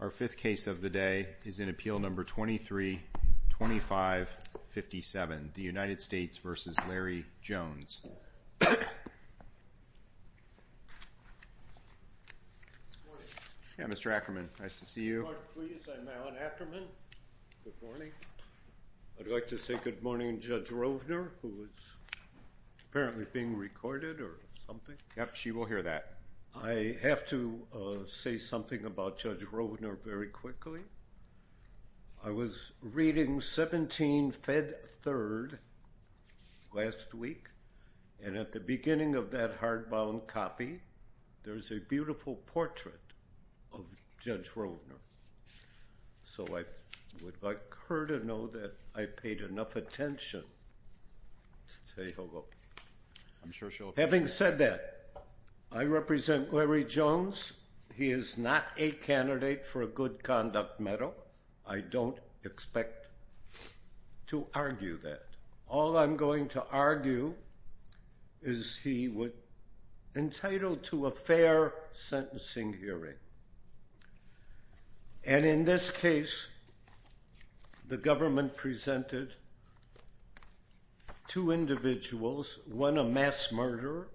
Our fifth case of the day is in Appeal Number 23-2557, the United States v. Larry Jones. Mr. Ackerman, nice to see you. I'd like to say good morning Judge Rovner who is apparently being recorded or something. Yep, she will hear that. I have to say something about Judge Rovner very quickly. I was reading 17 Fed Third last week and at the beginning of that hardbound copy there's a beautiful portrait of Judge Rovner. So I would like her to know that I paid enough attention to say hello. Having said that, I represent Larry Jones. He is not a candidate for a Good Conduct Medal. I don't expect to argue that. All I'm going to argue is he was entitled to a fair sentencing hearing and in this case the government presented two individuals, one a mass murderer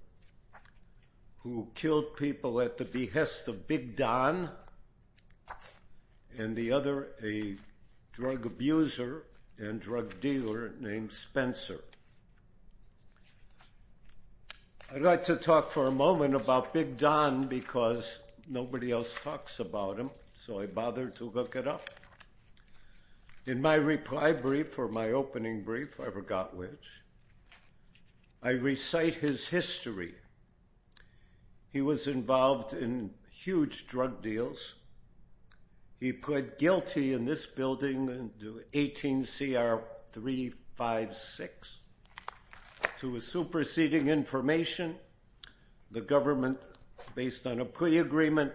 who killed people at the behest of Big Don and the other a drug abuser and drug dealer named Spencer. I'd like to talk for a moment about Big Don because nobody else talks about him so I bothered to look it up. In my reply brief or my opening brief, I forgot which, I recite his history. He was involved in huge drug deals. He pled guilty in this building, 18 CR 356, to a superseding information. The government, based on a plea agreement,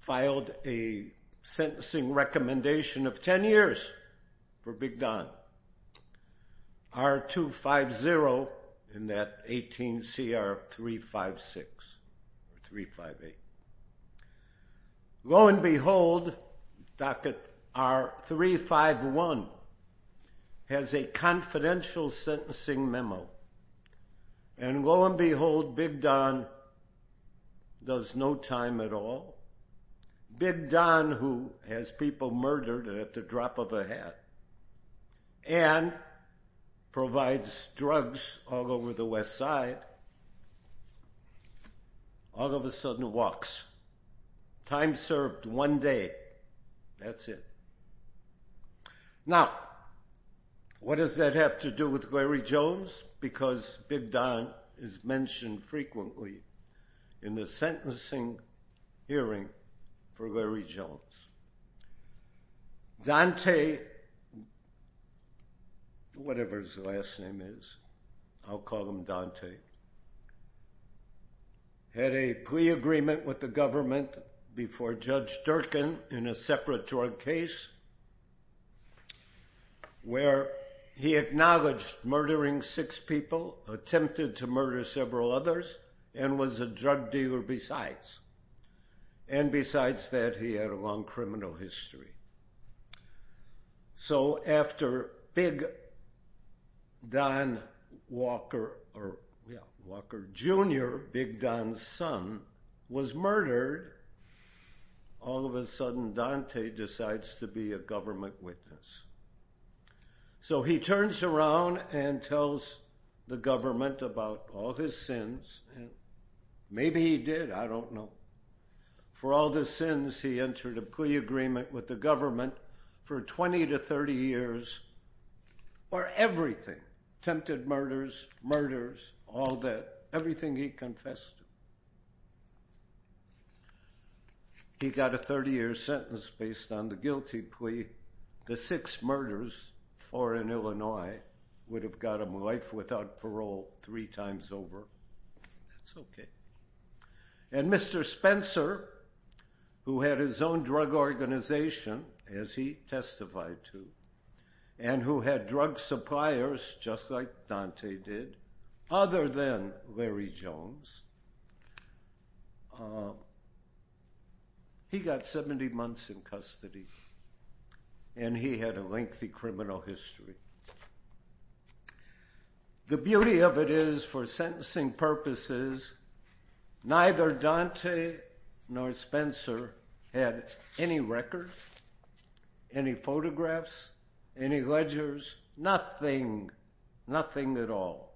filed a sentencing recommendation of 10 years for Big Don. R-250 in that 18 CR 356, 358. Lo and behold, Docket R-351 has a confidential sentencing memo and lo and behold, Big Don does no time at all. Big Don, who has people murdered at the drop of a hat and provides drugs all over the West Side, all of a sudden walks. Time served one day. That's it. Now, what does that have to do with Larry Jones? Because Big Don is mentioned frequently in the sentencing hearing for Larry Jones. Dante, whatever his last name is, I'll call him Dante, had a plea agreement with the government before Judge Durkin in a separate drug case where he acknowledged murdering six people, attempted to murder several others, and was a drug dealer besides. And besides that, he had a long criminal son, was murdered. All of a sudden, Dante decides to be a government witness. So he turns around and tells the government about all his sins. Maybe he did, I don't know. For all the sins, he entered a plea agreement with the government for 20 to 30 years for everything. Attempted murders, murders, all that, everything he confessed to. He got a 30-year sentence based on the guilty plea. The six murders, four in Illinois, would have got him life without parole three times over. That's okay. And Mr. Spencer, who had his own drug organization, as he testified to, and who had drug suppliers, just like Dante did, other than Larry Jones, he got 70 months in custody, and he had a lengthy criminal history. The beauty of it is, for sentencing purposes, neither Dante nor Spencer had any records, any photographs, any ledgers, nothing, nothing at all.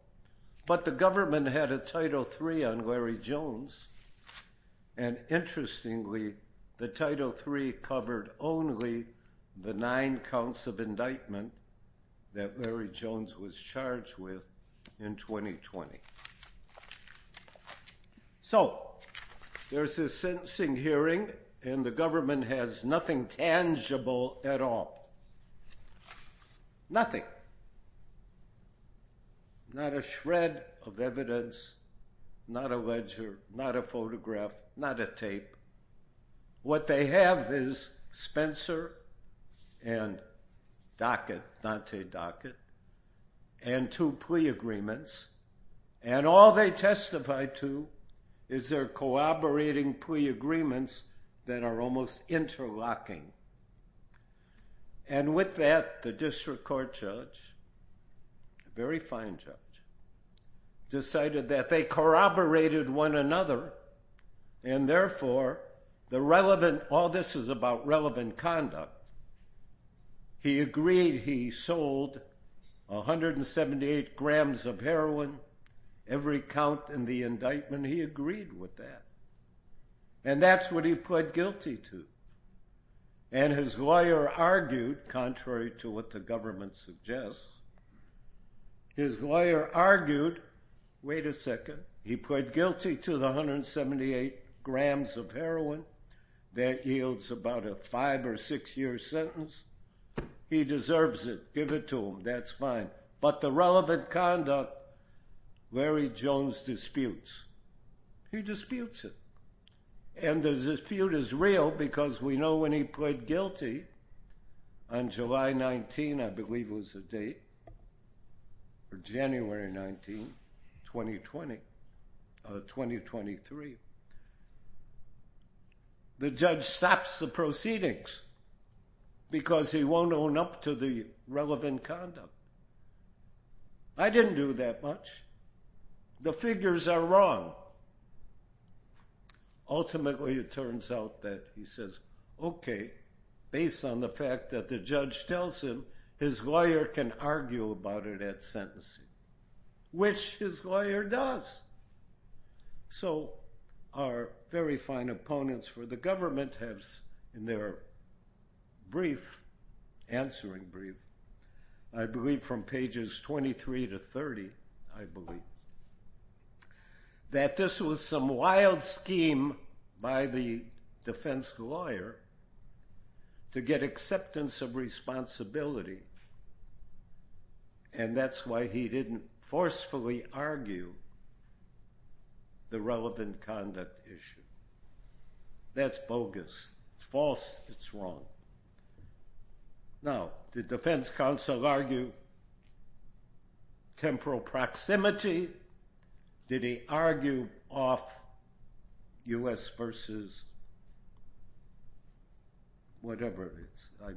But the government had a Title III on Larry Jones, and interestingly, the Title III covered only the nine counts of indictment that Larry Jones was charged with in 2020. So, there's his sentencing hearing, and the government has nothing tangible at all. Nothing. Not a shred of evidence, not a ledger, not a photograph, not a tape. What they have is Spencer and Dockett, Dante Dockett, and two plea agreements, and all they testified to is their corroborating plea agreements that are almost interlocking. And with that, the district court judge, a very fine judge, decided that they corroborated one another, and therefore, the relevant, all this is about relevant conduct. He agreed he sold 178 grams of heroin every count in the indictment. He agreed with that, and that's what he pled guilty to. And his lawyer argued, contrary to what the government suggests, his lawyer argued, wait a second, he pled a six-year sentence. He deserves it. Give it to him. That's fine. But the relevant conduct, Larry Jones disputes. He disputes it. And the dispute is real, because we know when he pled guilty, on July 19, I believe was the date, or January 19, 2020, 2023, the judge stops the proceedings, because he won't own up to the relevant conduct. I didn't do that much. The figures are wrong. Ultimately, it turns out that he says, okay, based on the fact that the judge tells him, his lawyer can argue about it at sentencing, which his lawyer does. So, our very fine opponents for the government have, in their brief, answering brief, I believe from pages 23 to 30, I believe, that this was some wild scheme by the defense lawyer to get acceptance of responsibility. And that's why he didn't forcefully argue the relevant conduct issue. That's bogus. It's false. It's wrong. Now, did the defense I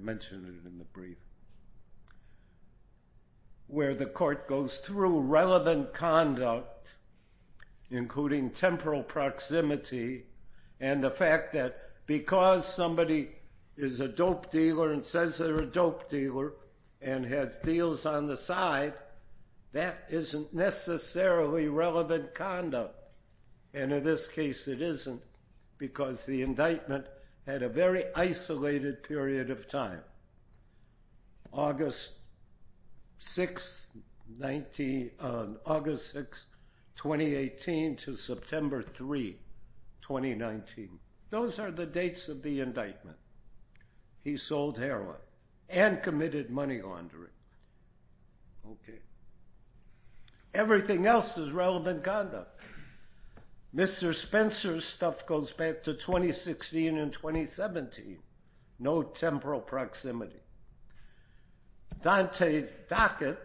mentioned it in the brief, where the court goes through relevant conduct, including temporal proximity and the fact that because somebody is a dope dealer and says they're a dope dealer and has deals on the side, that isn't necessarily relevant conduct. And in this case, it isn't, because the indictment had a very isolated period of time. August 6, 2018 to September 3, 2019. Those are the dates of the indictment. He sold heroin and committed money laundering. Okay. Everything else is relevant conduct. Mr. Spencer's stuff goes back to 2016 and 2017. No temporal proximity. Dante Dockett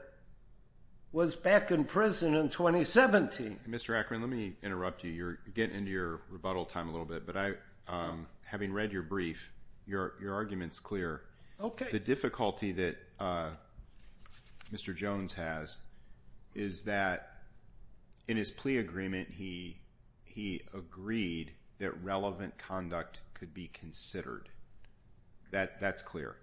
was back in prison in 2017. Mr. Akron, let me interrupt you. You're getting into your rebuttal time a little bit, but I, having read your brief, your argument's clear. The difficulty that Mr. Jones has is that in his plea agreement, he agreed that relevant conduct could be considered. That's clear.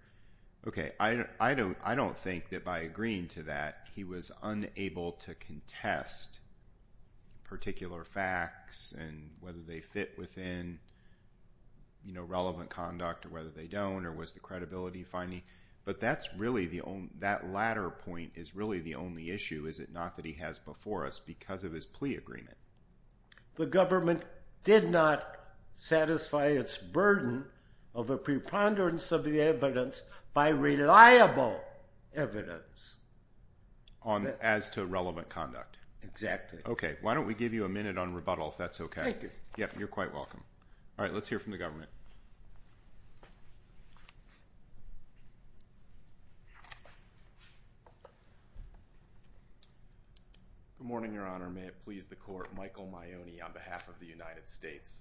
Okay. I don't think that by agreeing to that, he was unable to contest particular facts and whether they fit within, you know, relevant conduct or whether they don't, or was the credibility finding. But that's really the only, that latter point is really the only issue, is it not, that he has before us because of his plea agreement. The government did not satisfy its burden of a preponderance of the evidence by reliable evidence. As to relevant conduct. Exactly. Okay. Why don't we give you a minute on rebuttal, if that's okay? Yep. You're quite welcome. All right. Let's hear from the government. Good morning, Your Honor. May it please the court, Michael Maione on behalf of the United States.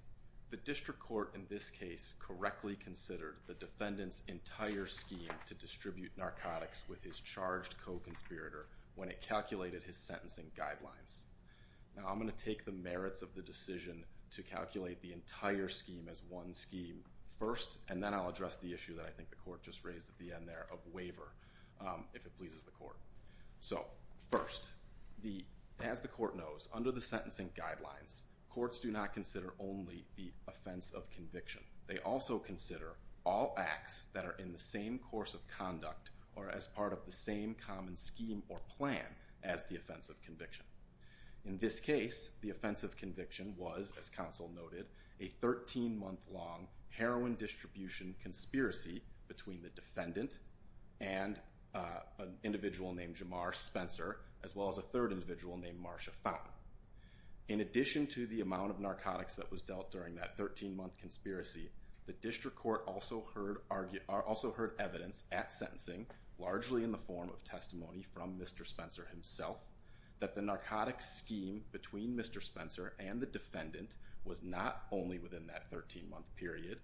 The district court in this case correctly considered the defendant's entire scheme to distribute narcotics with his charged co-conspirator when it calculated his sentencing guidelines. Now I'm going to take the merits of the decision to calculate the entire scheme as one scheme first, and then I'll address the issue that I think the court just raised at the end there of waiver, if it pleases the court. So first, as the court knows, under the sentencing guidelines, courts do not consider only the offense of conviction. They also consider all acts that are in the same course of conduct or as part of the same common scheme or plan as the offense of conviction. In this case, the offense of conviction was, as counsel noted, a 13-month-long heroin distribution conspiracy between the defendant and an individual named Jamar Spencer, as well as a third individual named Marsha Fountain. In addition to the amount of narcotics that was dealt during that 13-month conspiracy, the district court also heard evidence at sentencing, largely in the form of testimony from Mr. Spencer himself, that the narcotics scheme between Mr. Spencer and the defendant was not only within that 13-month period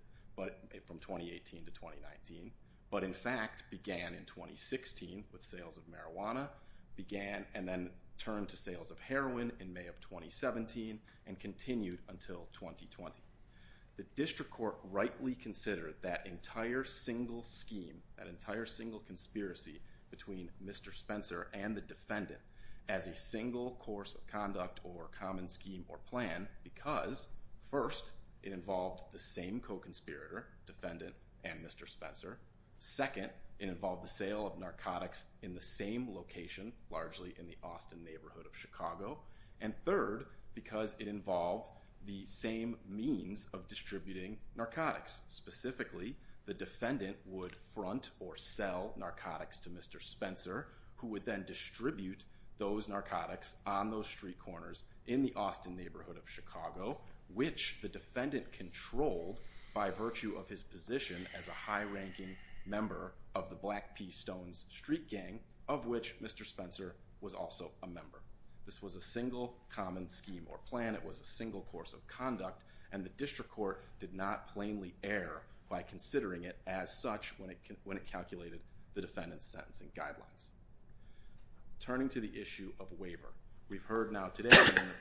from 2018 to 2019, but in fact began in 2016 with sales of marijuana, began and then turned to sales of heroin in May of 2017, and continued until 2020. The district court rightly considered that entire single scheme, that entire single conspiracy between Mr. Spencer and the defendant, as a single course of conduct or common scheme or plan because, first, it involved the same co-conspirator, defendant and Mr. Spencer. Second, it involved the sale of narcotics in the same location, largely in the Austin neighborhood of Chicago. And third, because it involved the same means of distributing narcotics. Specifically, the defendant would front or sell narcotics to Mr. Spencer, who would then distribute those narcotics on those street corners in the Austin neighborhood of Chicago, which the defendant controlled by virtue of his position as a high-ranking member of the Black P Stones street gang, of which Mr. Spencer was also a member. This was a single common scheme or plan. It was a single course of conduct, and the district court did not plainly err by considering it as such when it calculated the defendant's sentencing guidelines. Turning to the issue of waiver, we've heard now today,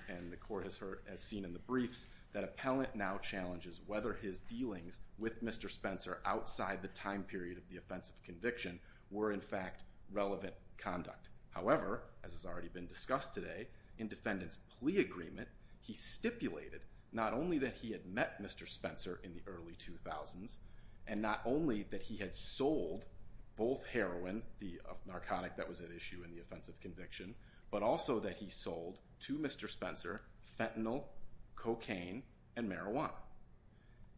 and the court has heard as seen in the briefs, that appellant now challenges whether his dealings with Mr. Spencer outside the time period of the offensive conviction were in fact relevant conduct. However, as has already been discussed today, in defendant's plea agreement, he stipulated not only that he had met Mr. Spencer in the early 2000s, and not only that he had sold both heroin, the narcotic that was at issue in the offensive conviction, but also that he sold to Mr. Spencer fentanyl, cocaine, and marijuana.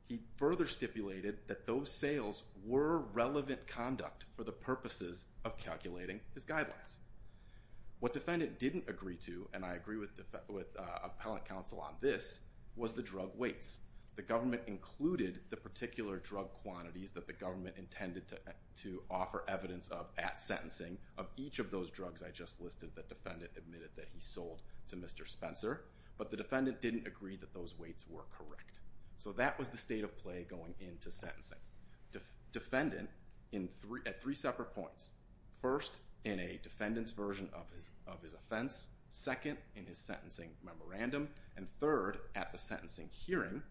He further stipulated that those sales were relevant conduct for the purposes of calculating his guidelines. What defendant didn't agree to, and I agree with appellant counsel on this, was the drug weights. The government included the particular drug quantities that the government intended to offer evidence of at sentencing of each of those drugs I just listed that defendant admitted that he sold to Mr. Spencer, but the defendant didn't agree that those weights were correct. So that was the state of play going into sentencing. Defendant, at three separate points, first in a defendant's version of his offense, second in his sentencing memorandum, and third at the sentencing hearing,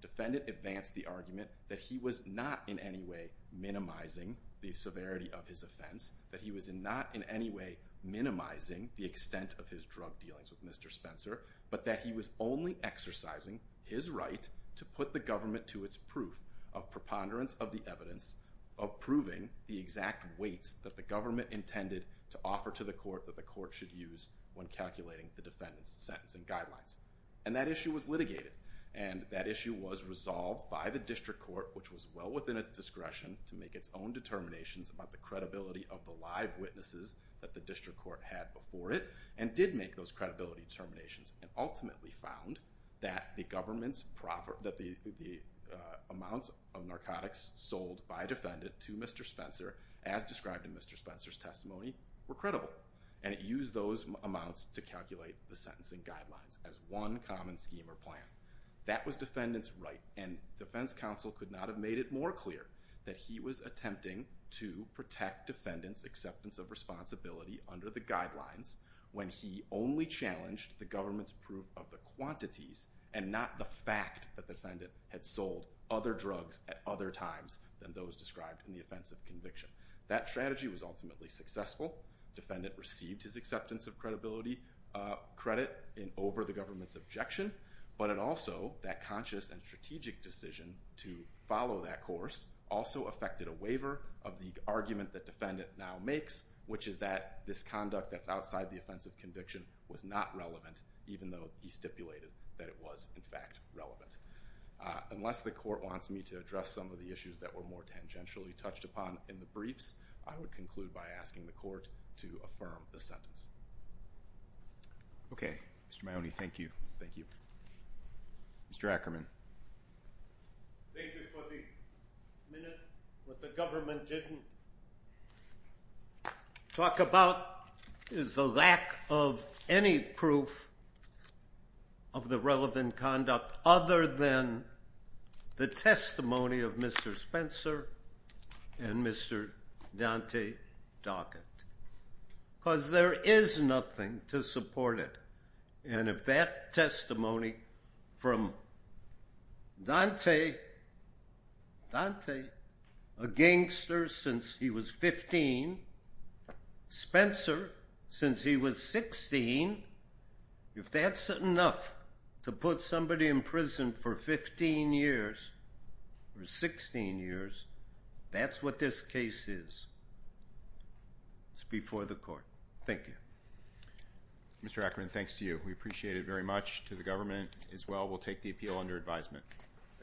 defendant advanced the argument that he was not in any way minimizing the severity of his offense, that he was not in any way minimizing the extent of his drug dealings with Mr. Spencer, but that he was only exercising his right to put the government to its proof of preponderance of the evidence of proving the exact weights that the government intended to offer to the court that the court should use when calculating the defendant's sentencing guidelines. And that issue was litigated, and that issue was resolved by the district court, which was well within its discretion to make its own determinations about the credibility of the live witnesses that the district court had before it, and did make those credibility determinations and ultimately found that the government's profit, that the amounts of narcotics sold by defendant to Mr. Spencer, as described in Mr. Spencer's testimony, were credible. And it used those amounts to calculate the sentencing guidelines as one common scheme or plan. That was defendant's right, and defense counsel could not have made it more clear that he was attempting to protect defendant's acceptance of responsibility under the guidelines when he only challenged the government's proof of the quantities and not the fact that defendant had sold other drugs at other times than those described in the offensive conviction. That strategy was ultimately successful. Defendant received his acceptance of credibility credit in over the government's objection, but it also, that conscious and strategic decision to follow that course, also affected a waiver of the argument that defendant now makes, which is that this conduct that's outside the offensive conviction was not relevant, even though he stipulated that it was in fact relevant. Unless the court wants me to address some of the issues that were more tangentially touched upon in the briefs, I would conclude by asking the court to affirm the sentence. Okay, Mr. Maione, thank you. Thank you. Mr. Ackerman. Thank you for the minute. What the other than the testimony of Mr. Spencer and Mr. Dante Dockett, because there is nothing to support it. And if that testimony from Dante, Dante, a gangster since he was 15, Spencer since he was 16, if that's enough to put somebody in prison for 15 years or 16 years, that's what this case is. It's before the court. Thank you. Mr. Ackerman, thanks to you. We appreciate it very much to the government as well. We'll take the appeal under advisement.